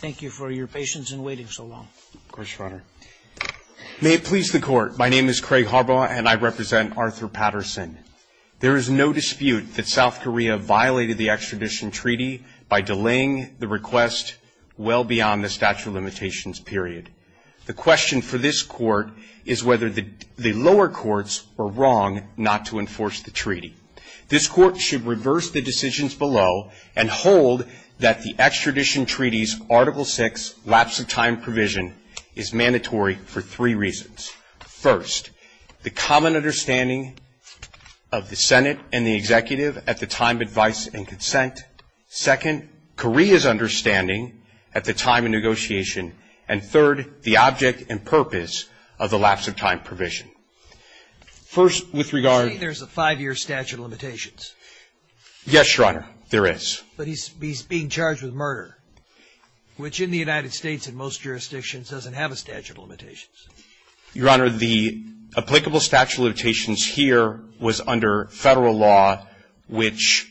Thank you for your patience in waiting so long. May it please the Court, my name is Craig Harbaugh and I represent Arthur Patterson. There is no dispute that South Korea violated the extradition treaty by delaying the request well beyond the statute of limitations period. The question for this Court is whether the lower courts were wrong not to enforce the treaty. This Court should reverse the decisions below and hold that the extradition treaty's Article VI lapse of time provision is mandatory for three reasons. First, the common understanding of the Senate and the Executive at the time of advice and consent. Second, Korea's understanding at the time of negotiation. And third, the object and purpose of the lapse of time provision. First, with regard I think there's a five-year statute of limitations. Yes, Your Honor, there is. But he's being charged with murder, which in the United States in most jurisdictions doesn't have a statute of limitations. Your Honor, the applicable statute of limitations here was under Federal law, which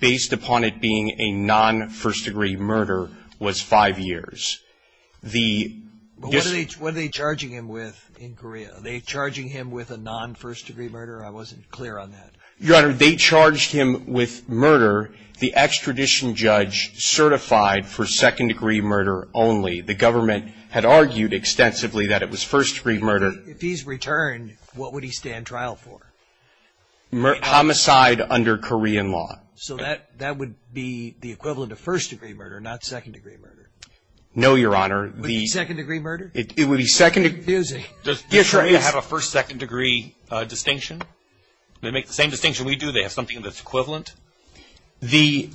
based upon it being a non-first-degree murder was five years. What are they charging him with in Korea? Are they charging him with a non-first-degree murder? I wasn't clear on that. Your Honor, they charged him with murder. The extradition judge certified for second-degree murder only. The government had argued extensively that it was first-degree murder. If he's returned, what would he stand trial for? Homicide under Korean law. So that would be the equivalent of first-degree murder, not second-degree murder? No, Your Honor. Would it be second-degree murder? It would be second-degree. It's confusing. Does Korea have a first-second-degree distinction? They make the same distinction we do. They have something that's equivalent. The,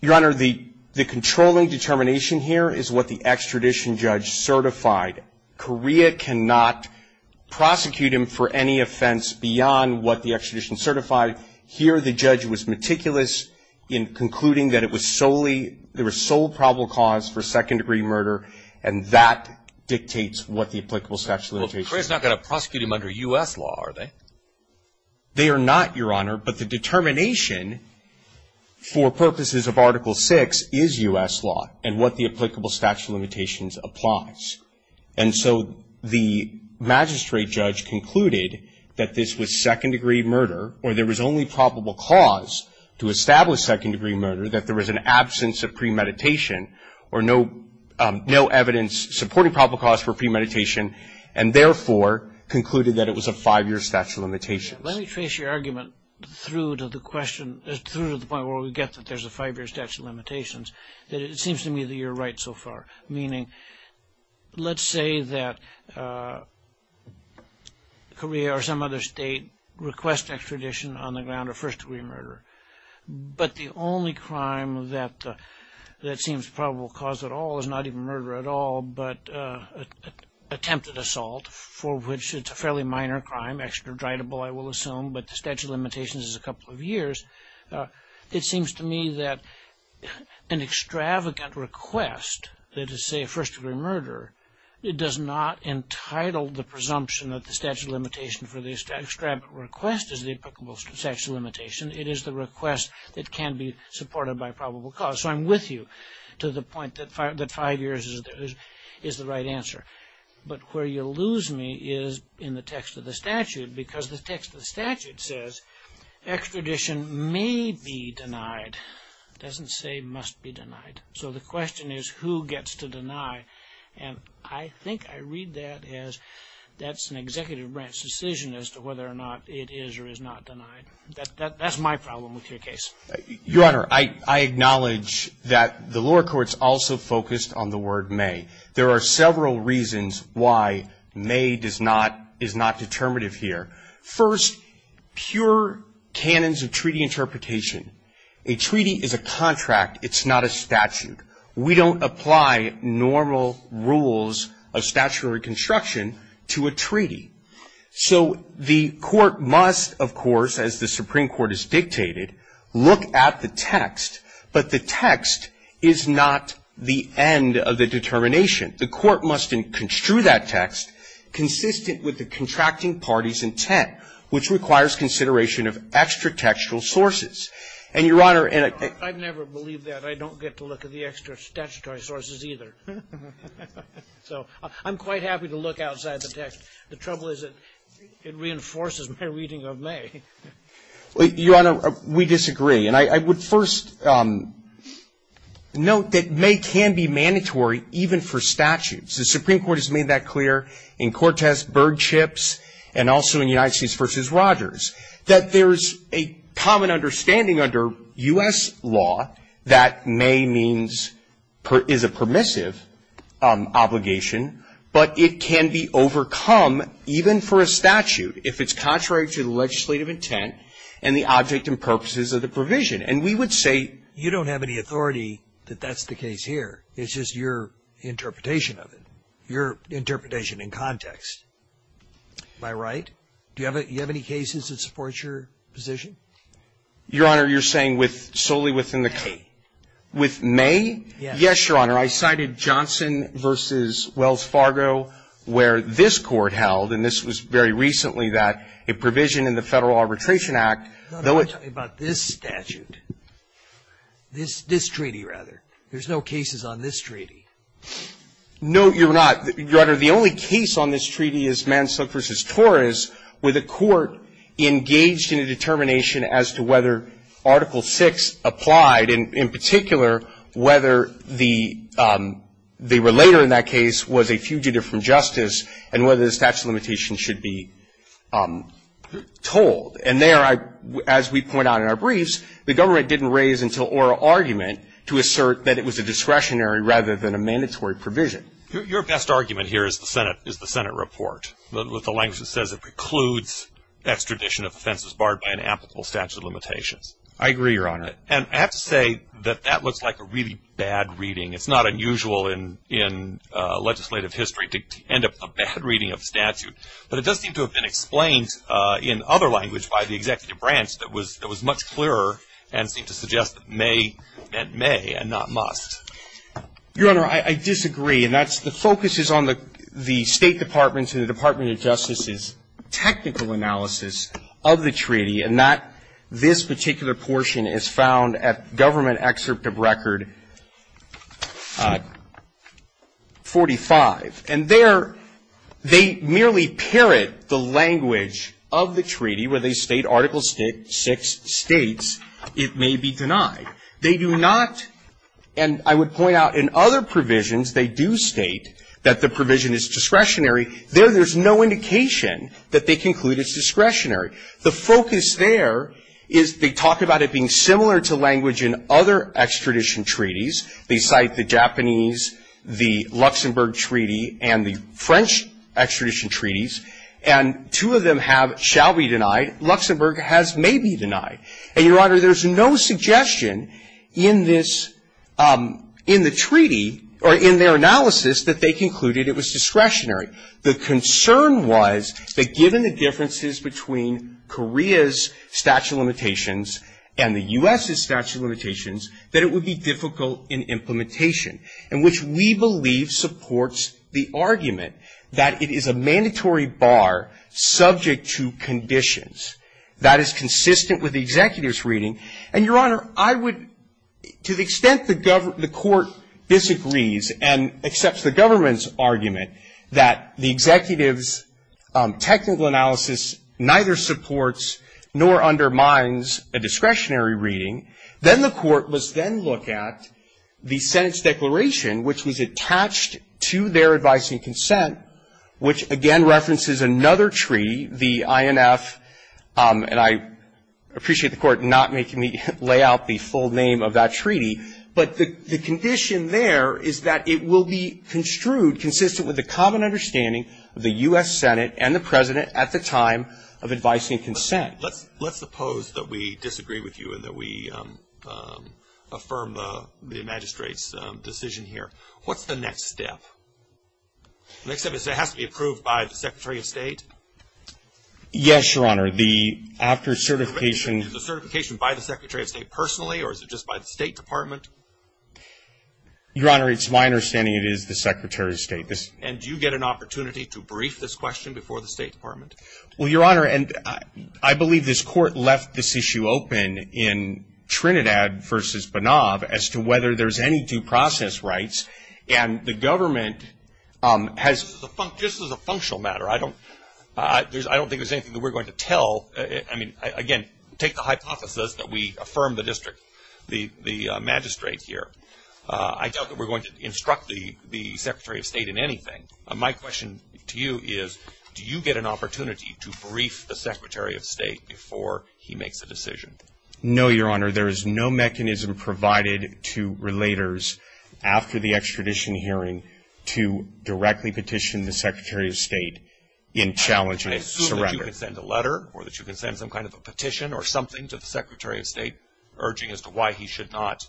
Your Honor, the controlling determination here is what the extradition judge certified. Korea cannot prosecute him for any offense beyond what the extradition certified. Here, the judge was meticulous in concluding that it was solely, there was sole probable cause for second-degree murder, and that dictates what the applicable statute of limitations. Well, Korea's not going to prosecute him under U.S. law, are they? They are not, Your Honor, but the determination for purposes of Article 6 is U.S. law, and what the applicable statute of limitations applies. And so the magistrate judge concluded that this was second-degree murder, or there was only probable cause to establish second-degree murder, that there was an absence of premeditation, or no evidence supporting probable cause for premeditation, and therefore concluded that it was a five-year statute of limitations. Let me trace your argument through to the question, through to the point where we get that there's a five-year statute of limitations, that it seems to me that you're right so far, meaning, let's say that Korea or some other state requests extradition on the ground of first-degree murder, but the only crime that seems probable cause at all is not even murder at all, but attempted assault, for which it's a fairly minor crime, extraditable, I will assume, but the statute of limitations is a couple of years. It seems to me that an extravagant request that is, say, first-degree murder, it does not entitle the presumption that the statute of limitations for the extravagant request is the applicable statute of limitations, it is the request that can be supported by probable cause. So I'm with you to the point that five years is the right answer. But where you lose me is in the text of the statute, because the text of the statute says extradition may be denied. It doesn't say must be denied. So the question is who gets to deny, and I think I read that as that's an executive branch decision as to whether or not it is or is not denied. That's my problem with your case. Your Honor, I acknowledge that the lower courts also focused on the word may. There are several reasons why may is not determinative here. First, pure canons of treaty interpretation. A treaty is a contract, it's not a statute. We don't apply normal rules of statutory construction to a treaty. So the court must, of course, as the Supreme Court has dictated, look at the text, but the text is not the end of the determination. The court must construe that text consistent with the contracting party's intent, which requires consideration of extra-textual sources. And, Your Honor, and I don't get to look at the extra-statutory sources either. So I'm quite happy to look outside the text. The trouble is it reinforces my reading of may. Your Honor, we disagree. And I would first note that may can be mandatory even for statutes. The Supreme Court has made that clear in Cortes, Birdchips, and also in United States v. Rogers, that there's a common understanding under U.S. law that may means, is a permissive obligation, but it can be overcome even for a statute. If it's contrary to the legislative intent and the object and purposes of the provision. And we would say- You don't have any authority that that's the case here. It's just your interpretation of it. Your interpretation in context. Am I right? Do you have any cases that support your position? Your Honor, you're saying solely within the case? With may? Yes, Your Honor. I cited Johnson v. Wells Fargo, where this court held, and this was very recently, that a provision in the Federal Arbitration Act- I'm not talking about this statute. This treaty, rather. There's no cases on this treaty. No, Your Honor, the only case on this treaty is Manslook v. Torres, where the court engaged in a determination as to whether Article VI applied, and in particular, whether the relator in that case was a fugitive from justice and whether the statute of limitations should be told. And there, as we point out in our briefs, the government didn't raise until oral argument to assert that it was a discretionary rather than a mandatory provision. Your best argument here is the Senate report, with the language that says it precludes extradition of offenses barred by an applicable statute of limitations. I agree, Your Honor. And I have to say that that looks like a really bad reading. It's not unusual in legislative history to end up with a bad reading of a statute. But it does seem to have been explained in other language by the executive branch that was much clearer and seemed to suggest that may meant may and not must. Your Honor, I disagree. And the focus is on the State Department's and the Department of Justice's technical analysis of the treaty, and that this particular portion is found at Government Excerpt of Record 45. And there, they merely parrot the language of the treaty where they state Article VI states it may be denied. They do not, and I would point out in other provisions, they do state that the provision is discretionary. There, there's no indication that they conclude it's discretionary. The focus there is they talk about it being similar to language in other extradition treaties. They cite the Japanese, the Luxembourg Treaty, and the French extradition treaties. And two of them have shall be denied. Luxembourg has may be denied. And, Your Honor, there's no suggestion in this, in the treaty, or in their analysis that they concluded it was discretionary. The concern was that given the differences between Korea's statute of limitations and the U.S.'s statute of limitations, that it would be difficult in implementation, and which we believe supports the argument that it is a mandatory bar subject to conditions. That is consistent with the Executive's reading. And, Your Honor, I would, to the extent the court disagrees and accepts the government's argument that the Executive's technical analysis neither supports nor undermines a discretionary reading, then the court must then look at the Senate's declaration, which was attached to their advice and consent, which again references another treaty, the INF, and I appreciate the court not making me lay out the full name of that treaty, but the condition there is that it will be construed consistent with the common understanding of the U.S. Senate and the President at the time of advice and consent. Let's suppose that we disagree with you and that we affirm the magistrate's decision here. What's the next step? The next step is it has to be approved by the Secretary of State? Yes, Your Honor. The after certification. Is the certification by the Secretary of State personally or is it just by the State Department? Your Honor, it's my understanding it is the Secretary of State. And do you get an opportunity to brief this question before the State Department? Well, Your Honor, I believe this court left this issue open in Trinidad versus rights and the government has, just as a functional matter, I don't think there's anything that we're going to tell. I mean, again, take the hypothesis that we affirm the district, the magistrate here. I doubt that we're going to instruct the Secretary of State in anything. My question to you is, do you get an opportunity to brief the Secretary of State before he makes a decision? No, Your Honor. There is no mechanism provided to relators after the extradition hearing to directly petition the Secretary of State in challenging surrender. I assume that you can send a letter or that you can send some kind of a petition or something to the Secretary of State urging as to why he should not,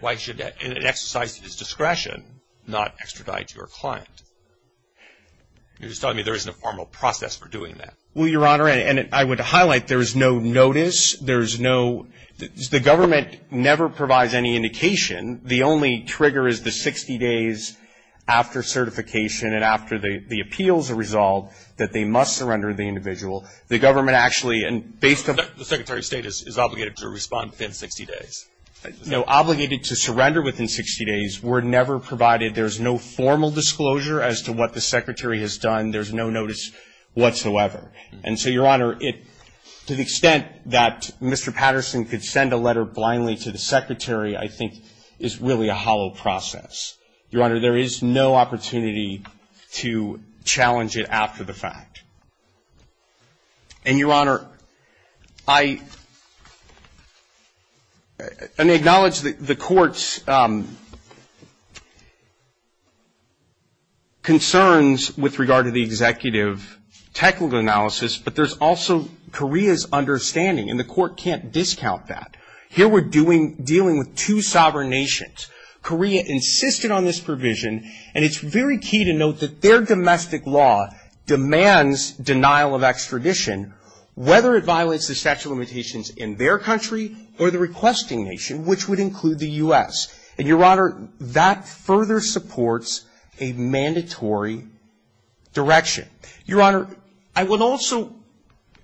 why he should, in an exercise of his discretion, not extradite your client. You're just telling me there isn't a formal process for doing that. Well, Your Honor, and I would highlight there's no notice. There's no, the government never provides any indication. The only trigger is the 60 days after certification and after the appeals are resolved that they must surrender the individual. The government actually, and based on- The Secretary of State is obligated to respond within 60 days. No, obligated to surrender within 60 days. We're never provided, there's no formal disclosure as to what the Secretary has done. There's no notice whatsoever. And so, Your Honor, to the extent that Mr. Patterson could send a letter blindly to the Secretary I think is really a hollow process. Your Honor, there is no opportunity to challenge it after the fact. And, Your Honor, I, and I acknowledge the court's concerns with regard to the executive technical analysis, but there's also Korea's understanding, and the court can't discount that. Here we're dealing with two sovereign nations. Korea insisted on this provision, and it's very key to note that their domestic law demands denial of extradition whether it violates the statute of limitations in their country or the requesting nation, which would include the U.S. And, Your Honor, that further supports a mandatory direction. Your Honor, I would also,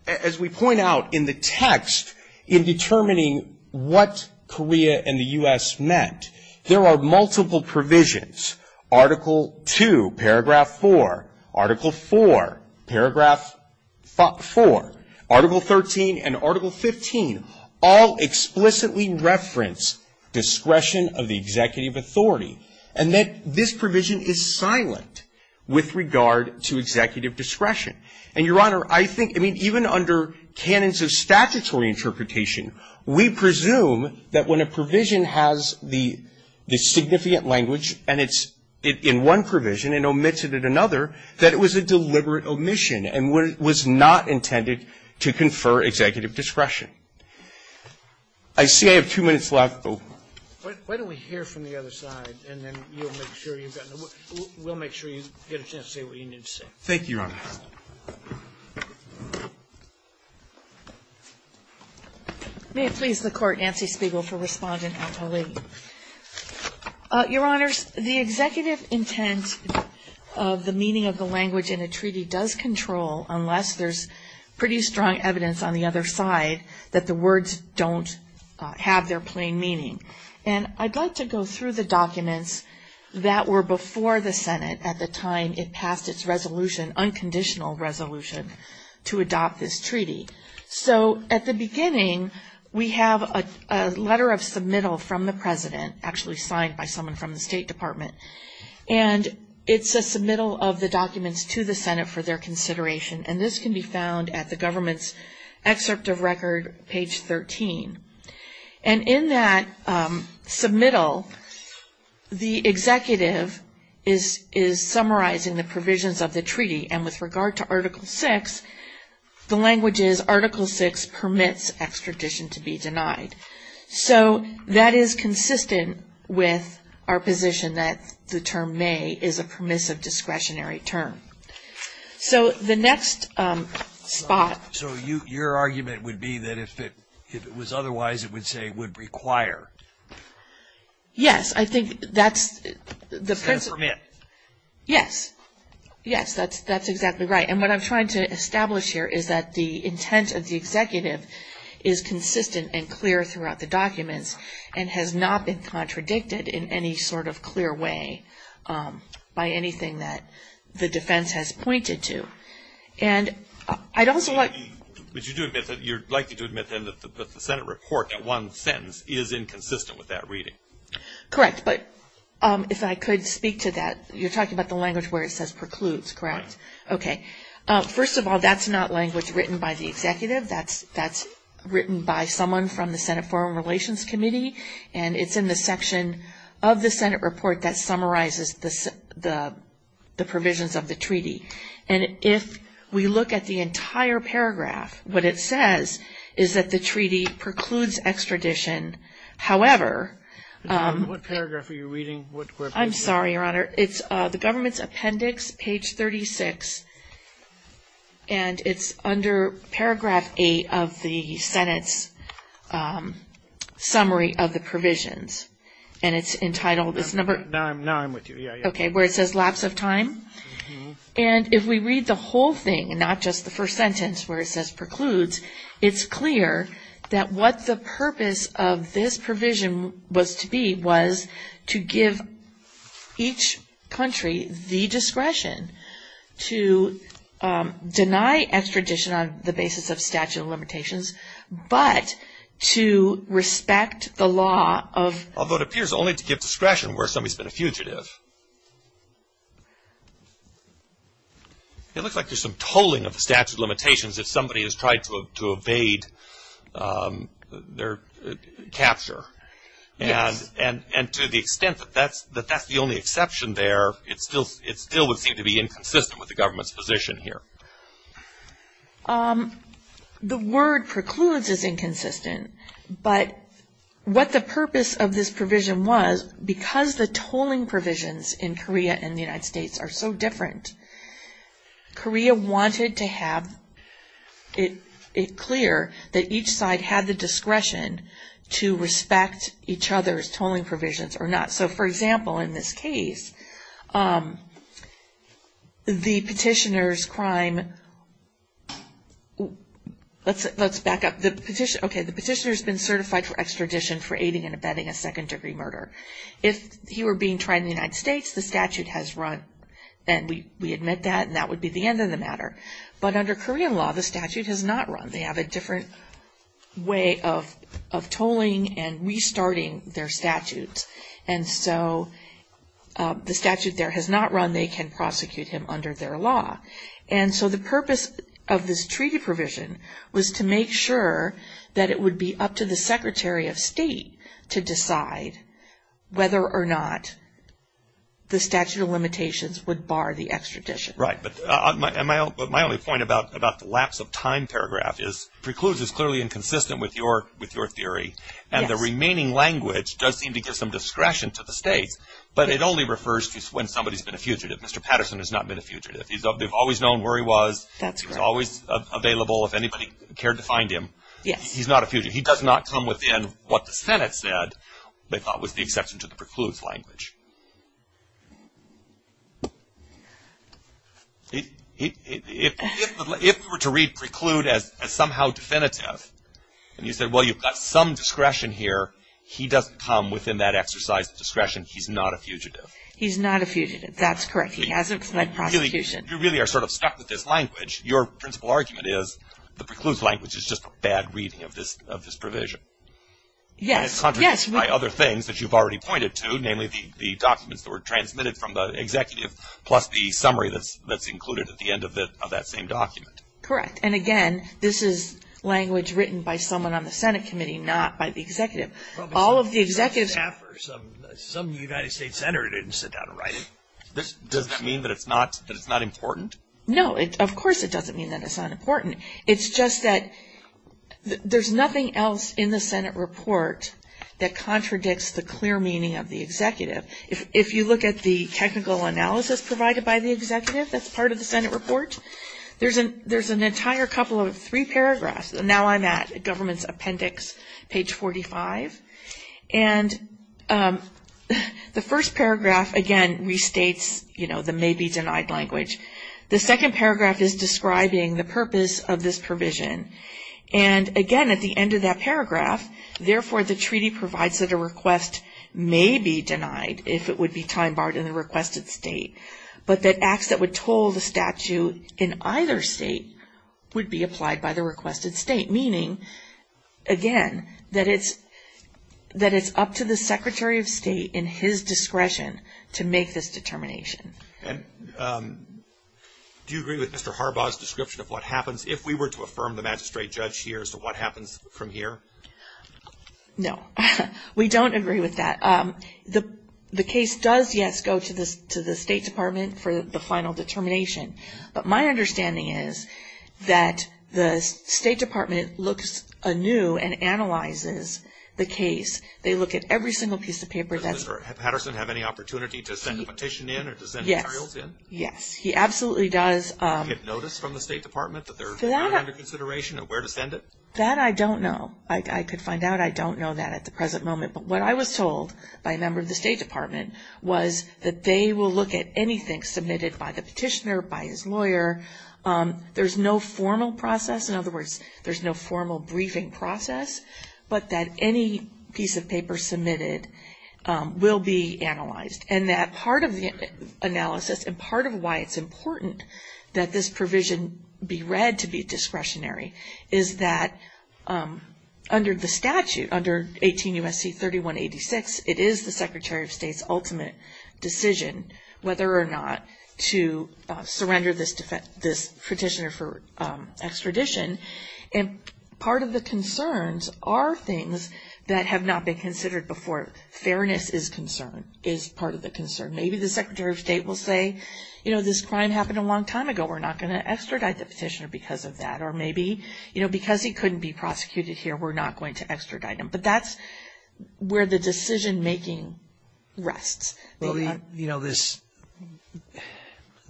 as we point out in the text in determining what Korea and the U.S. met, there are multiple provisions. Article 2, paragraph 4, article 4, paragraph 4, article 13, and article 15 all explicitly reference discretion of the executive authority, and that this provision is silent with regard to executive discretion. And, Your Honor, I think, I mean, even under canons of statutory interpretation, we presume that when a provision has the significant language, and it's in one provision and omitted in another, that it was a deliberate omission and was not intended to confer executive discretion. I see I have two minutes left. Why don't we hear from the other side, and then you'll make sure you've gotten the, we'll make sure you get a chance to say what you need to say. Thank you, Your Honor. May it please the Court, Nancy Spiegel for respondent and colleague. Your Honors, the executive intent of the meaning of the language in a treaty does control unless there's pretty strong evidence on the other side that the words don't have their plain meaning. And I'd like to go through the documents that were before the Senate at the time it passed its resolution, unconditional resolution, to adopt this treaty. So at the beginning, we have a letter of submittal from the President, actually signed by someone from the State Department. And it's a submittal of the documents to the Senate for their consideration. And this can be found at the government's excerpt of record, page 13. And in that submittal, the executive is summarizing the provisions of the treaty. And with regard to Article VI, the language is Article VI permits extradition to be denied. So that is consistent with our position that the term may is a permissive discretionary term. So the next spot. So your argument would be that if it was otherwise, it would say would require. It's a permit. Yes. Yes, that's exactly right. And what I'm trying to establish here is that the intent of the executive is consistent and clear throughout the documents and has not been contradicted in any sort of clear way by anything that the defense has pointed to. And I'd also like... But you do admit that you're likely to admit then that the Senate report at one sentence is inconsistent with that reading. Correct, but if I could speak to that. You're talking about the language where it says precludes, correct? Okay. First of all, that's not language written by the executive. That's written by someone from the Senate Foreign Relations Committee and it's in the section of the Senate report that summarizes the provisions of the treaty. And if we look at the entire paragraph, what it says is that the treaty precludes extradition. However... What paragraph are you reading? I'm sorry, Your Honor. It's the government's appendix, page 36. And it's under paragraph 8 of the Senate's summary of the provisions. And it's entitled... Now I'm with you. Okay, where it says lapse of time. And if we read the whole thing, not just the first sentence where it says precludes, it's clear that what the purpose of this provision was to be was to give each country the discretion to deny extradition on the basis of statute of limitations, but to respect the law of... Although it appears only to give discretion where somebody's been a fugitive. It looks like there's some tolling of the statute of limitations if somebody has tried to evade their capture. And to the extent that that's the only exception there, it still would seem to be inconsistent with the government's position here. The word precludes is inconsistent. But what the purpose of this provision was, because the tolling provisions in Korea and the United States are so different, Korea wanted to have it clear that each side had the discretion to respect each other's tolling provisions or not. So, for example, in this case, the petitioner's crime... Let's back up. Okay, the petitioner's been certified for extradition for aiding and abetting a second-degree murder. If he were being tried in the United States, the statute has run. And we admit that, and that would be the end of the matter. But under Korean law, the statute has not run. They have a different way of tolling and restarting their statutes. And so the statute there has not run. They can prosecute him under their law. And so the purpose of this treaty provision was to make sure that it would be up to the Secretary of State to decide whether or not the statute of limitations would bar the extradition. Right. But my only point about the lapse of time paragraph is precludes is clearly inconsistent with your theory. And the remaining language does seem to give some discretion to the states. But it only refers to when somebody's been a fugitive. Mr. Patterson has not been a fugitive. They've always known where he was. He's always available if anybody cared to find him. He's not a fugitive. He does not come within what the Senate said they thought was the exception to the precludes language. If we were to read preclude as somehow definitive, and you said, well, you've got some discretion here, he doesn't come within that exercise of discretion. He's not a fugitive. He's not a fugitive. That's correct. He hasn't fled prosecution. You really are sort of stuck with this language. Your principal argument is the precludes language is just a bad reading of this provision. Yes. And it's contradicted by other things that you've already pointed to, namely the documents that were transmitted from the executive plus the summary that's included at the end of that same document. Correct. And again, this is language written by someone on the Senate committee, not by the executive. All of the executives Some of the United States senators didn't sit down and write it. Does that mean that it's not important? No. Of course it doesn't mean that it's not important. It's just that there's nothing else in the Senate report that contradicts the clear meaning of the executive. If you look at the technical analysis provided by the executive that's part of the Senate report, there's an entire couple of three paragraphs. Now I'm at government's appendix, page 45. And the first paragraph, again, restates, you know, the purpose of the may be denied language. The second paragraph is describing the purpose of this provision. And again, at the end of that paragraph, therefore the treaty provides that a request may be denied if it would be time barred in the requested state. But that acts that would toll the statute in either state would be applied by the requested state. Meaning, again, that it's up to the Secretary of State in his discretion to make this determination. And do you agree with Mr. Harbaugh's description of what happens if we were to affirm the magistrate judge here as to what happens from here? No. We don't agree with that. The case does, yes, go to the State Department for the final determination. But my understanding is that the State Department looks anew and analyzes the case. They look at every single piece of paper. Does Mr. Patterson have any opportunity to send a petition in or to send materials in? Yes, he absolutely does. Do they get notice from the State Department that they're under consideration of where to send it? That I don't know. I could find out. I don't know that at the present moment. But what I was told by a member of the State Department was that they will look at anything submitted by the petitioner, by his lawyer. There's no formal process. In other words, there's no formal briefing process. But that any piece of paper submitted will be analyzed. And that part of the analysis and part of why it's important that this provision be read to be discretionary is that under the statute, under 18 U.S.C. 3186, it is the Secretary of State's ultimate decision whether or not to surrender this petitioner for extradition. And part of the concerns are things that have not been considered before. Fairness is part of the concern. Maybe the Secretary of State will say, you know, this crime happened a long time ago. We're not going to extradite the petitioner because of that. Or maybe, you know, because he couldn't be prosecuted here, we're not going to extradite him. But that's where the decision making rests. You know, this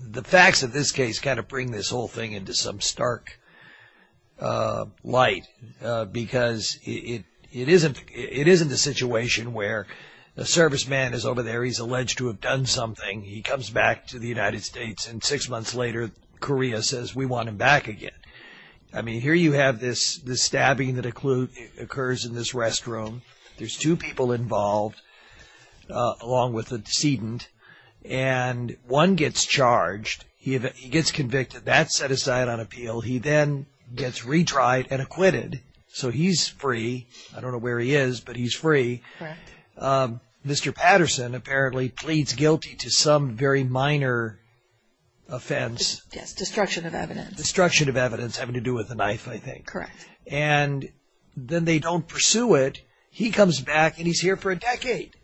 the facts of this case kind of bring this whole thing into some stark light. Because it isn't a situation where the serviceman is over there he's alleged to have done something. He comes back to the United States and six months later, Korea says, we want him back again. I mean, here you have this stabbing that occurs in this restroom. There's two people involved along with a decedent and one gets charged. He gets convicted. That's set aside on appeal. He then gets retried and acquitted. So he's free. I don't know where he is, but he's free. Mr. Patterson apparently pleads guilty to some very minor offense. Yes, destruction of evidence. Destruction of evidence having to do with the knife, I think. Correct. And then they don't pursue it. He comes back and he's here for a decade.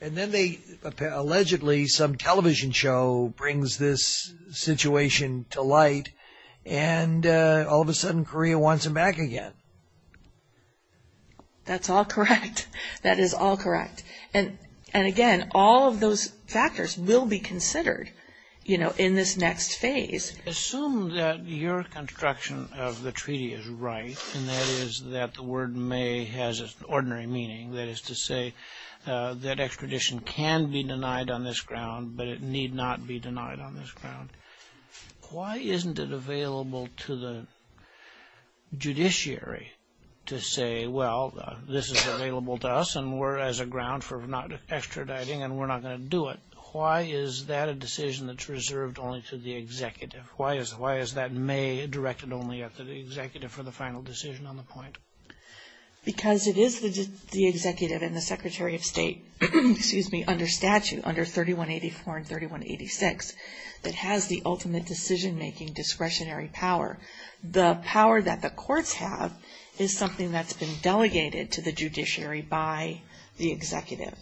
And then they allegedly, some television show brings this situation to light and all of a sudden, Korea wants him back again. That's all correct. That is all correct. And again, all of those factors will be considered in this next phase. Assume that your construction of the treaty is right, and that is that the word may has an ordinary meaning, that is to say that extradition can be denied on this ground, but it need not be Why isn't it available to the judiciary to say, well this is available to us as a ground for not extraditing and we're not going to do it? Why is that a decision that's reserved only to the executive? Why is that may directed only to the executive for the final decision on the point? Because it is the executive and the Secretary of State under statute under 3184 and 3186 that has the ultimate decision making discretionary power. The power that the courts have is something that's been delegated to the judiciary by the executive.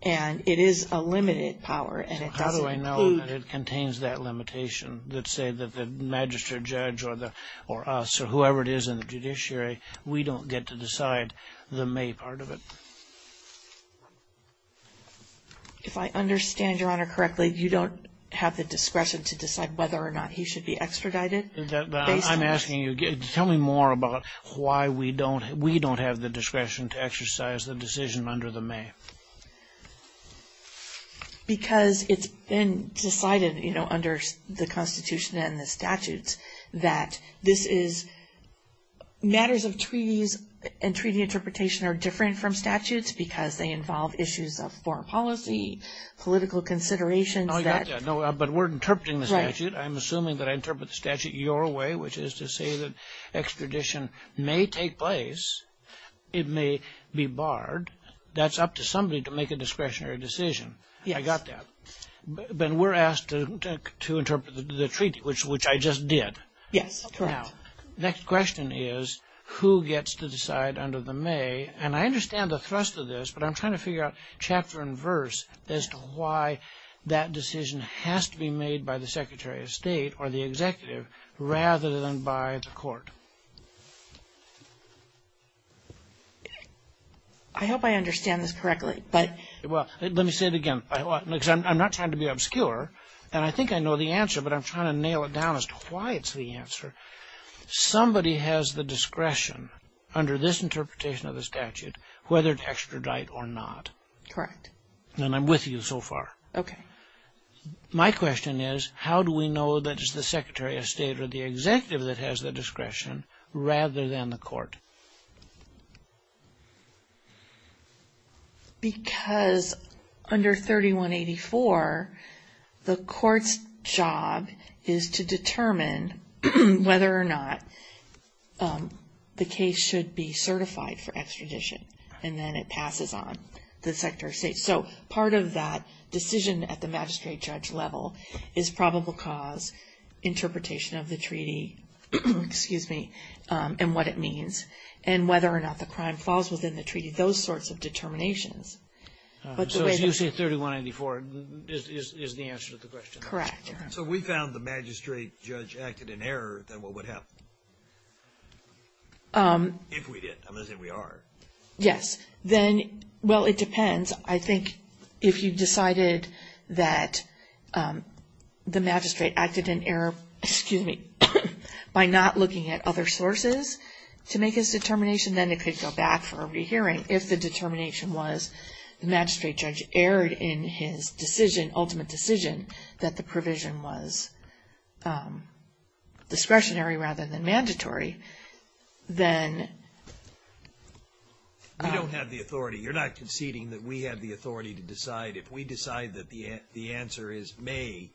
And it is a limited power How do I know that it contains that limitation that say that the magistrate judge or us or whoever it is in the judiciary we don't get to decide the may part of it? If I have the discretion to decide whether or not he should be extradited Tell me more about why we don't have the discretion to exercise the decision under the may. Because it's been decided under the Constitution and the statutes that this is matters of treaties and treaty interpretation are different from statutes because they involve issues of foreign policy political considerations But we're interpreting the statute I'm assuming that I interpret the statute your way which is to say that extradition may take place it may be barred that's up to somebody to make a discretionary decision. I got that. But we're asked to interpret the treaty which I just did. Next question is who gets to decide under the may and I understand the thrust of this but I'm trying to figure out chapter and verse as to why that decision has to be made by the Secretary of State or the executive rather than by the court. I hope I understand this correctly Let me say it again I'm not trying to be obscure and I think I know the answer but I'm trying to nail it down as to why it's the answer Somebody has the discretion under this interpretation of the statute whether to extradite or not Correct And I'm with you so far My question is how do we know that it's the Secretary of State or the executive that has the discretion rather than the court Because under 3184 the court's job is to determine whether or not the case should be certified for extradition and then it passes on So part of that decision at the magistrate judge level is probable cause interpretation of the treaty excuse me and what it means and whether or not the crime falls within the treaty those sorts of determinations So as you say 3184 is the answer to the question So if we found the magistrate judge acted in error then what would happen If we did I'm going to say we are Yes Well it depends I think if you decided that the magistrate acted in error by not looking at other sources to make his determination then it could go back for a re-hearing if the determination was the magistrate judge erred in his decision ultimate decision that the provision was discretionary rather than mandatory then We don't have the authority you're not conceding that we have the authority to decide if we decide that the answer is may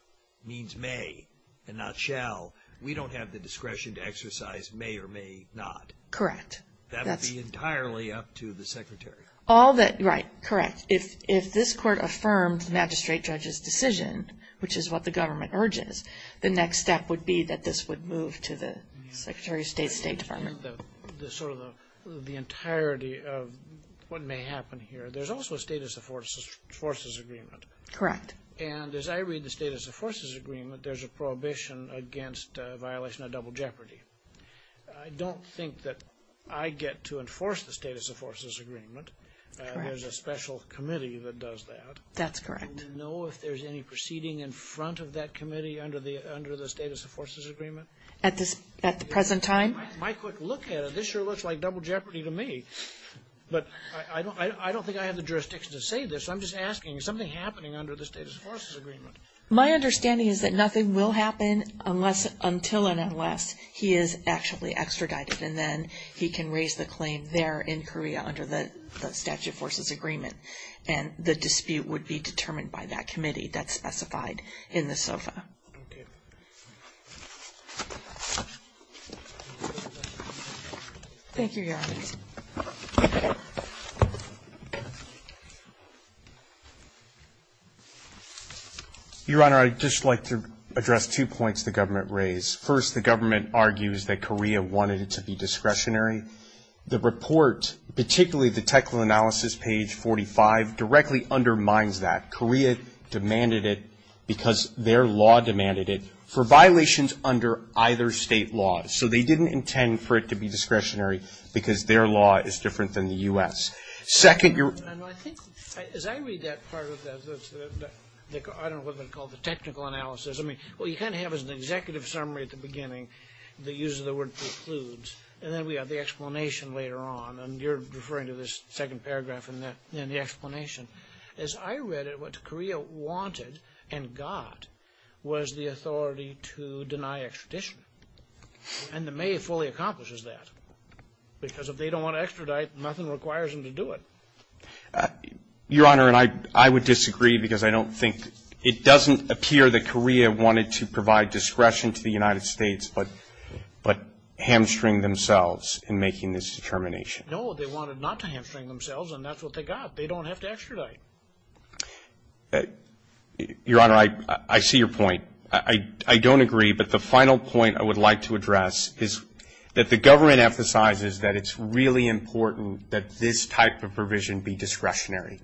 means may and not shall we don't have the discretion to exercise may or may not Correct. That would be entirely up to the secretary Right correct if this court affirmed magistrate judge's decision which is what the government urges the next step would be that this would move to the secretary of state state department the entirety of what may happen here there's also a status of forces agreement correct and as I read the status of forces agreement there's a prohibition against violation of double jeopardy I don't think that I get to enforce the status of forces agreement there's a special committee that does that that's correct do you know if there's any proceeding in front of that committee under the status of forces agreement at the present time this sure looks like double jeopardy to me but I don't think I have the jurisdiction to say this I'm just asking is something happening under the status of forces agreement my understanding is that nothing will happen unless until and unless he is actually extradited and then he can raise the claim there in Korea under the statute of forces agreement and the dispute would be determined by that committee that's specified in the SOFA thank you your honor your honor I'd just like to address two points the government raised first the government argues that Korea wanted it to be discretionary the report particularly the technical analysis page 45 directly undermines that Korea demanded it because their law demanded it for violations under either state law so they didn't intend for it to be discretionary because their law is different than the U.S. as I read that part of that I don't know what they call it the technical analysis well you kind of have an executive summary at the beginning that uses the word precludes and then we have the explanation later on and you're referring to this second paragraph in the explanation as I read it what Korea wanted and got was the authority to deny extradition and the may fully accomplishes that because if they don't want to extradite nothing requires them to do it your honor and I would disagree because I don't think it doesn't appear that Korea wanted to provide discretion to the United States but hamstring themselves in making this determination no they wanted not to hamstring themselves and that's what they got they don't have to extradite your honor I see your point I don't agree but the final point I would like to address is that the government emphasizes that it's really important that this type of provision be discretionary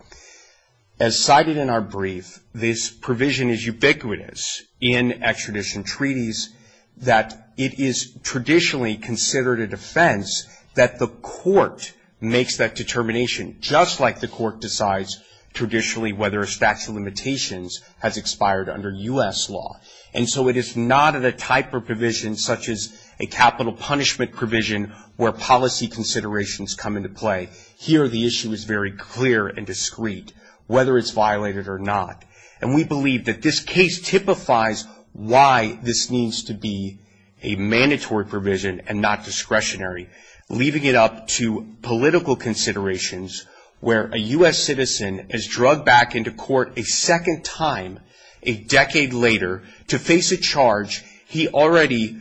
as cited in our brief this provision is ubiquitous in extradition treaties that it is traditionally considered a defense that the court makes that determination just like the court decides traditionally whether a statute of limitations has expired under U.S. law and so it is not a type of provision such as a capital punishment provision where policy considerations come into play here the issue is very clear and discreet whether it's violated or not and we believe that this case typifies why this needs to be a mandatory provision and not discretionary leaving it up to political considerations where a U.S. citizen is drugged back into court a second time a decade later to face a charge he already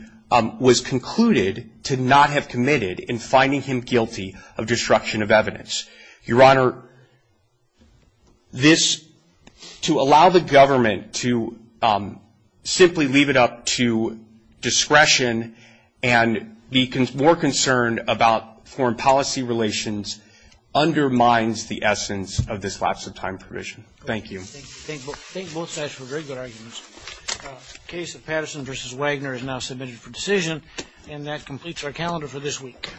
was concluded to not have committed in finding him guilty of destruction of evidence your honor this to allow the government to simply leave it up to discretion and be more concerned about foreign policy relations undermines the essence of this lapse of time provision thank you thank both sides for very good arguments case of Patterson vs. Wagner is now submitted for decision and that completes our calendar for this week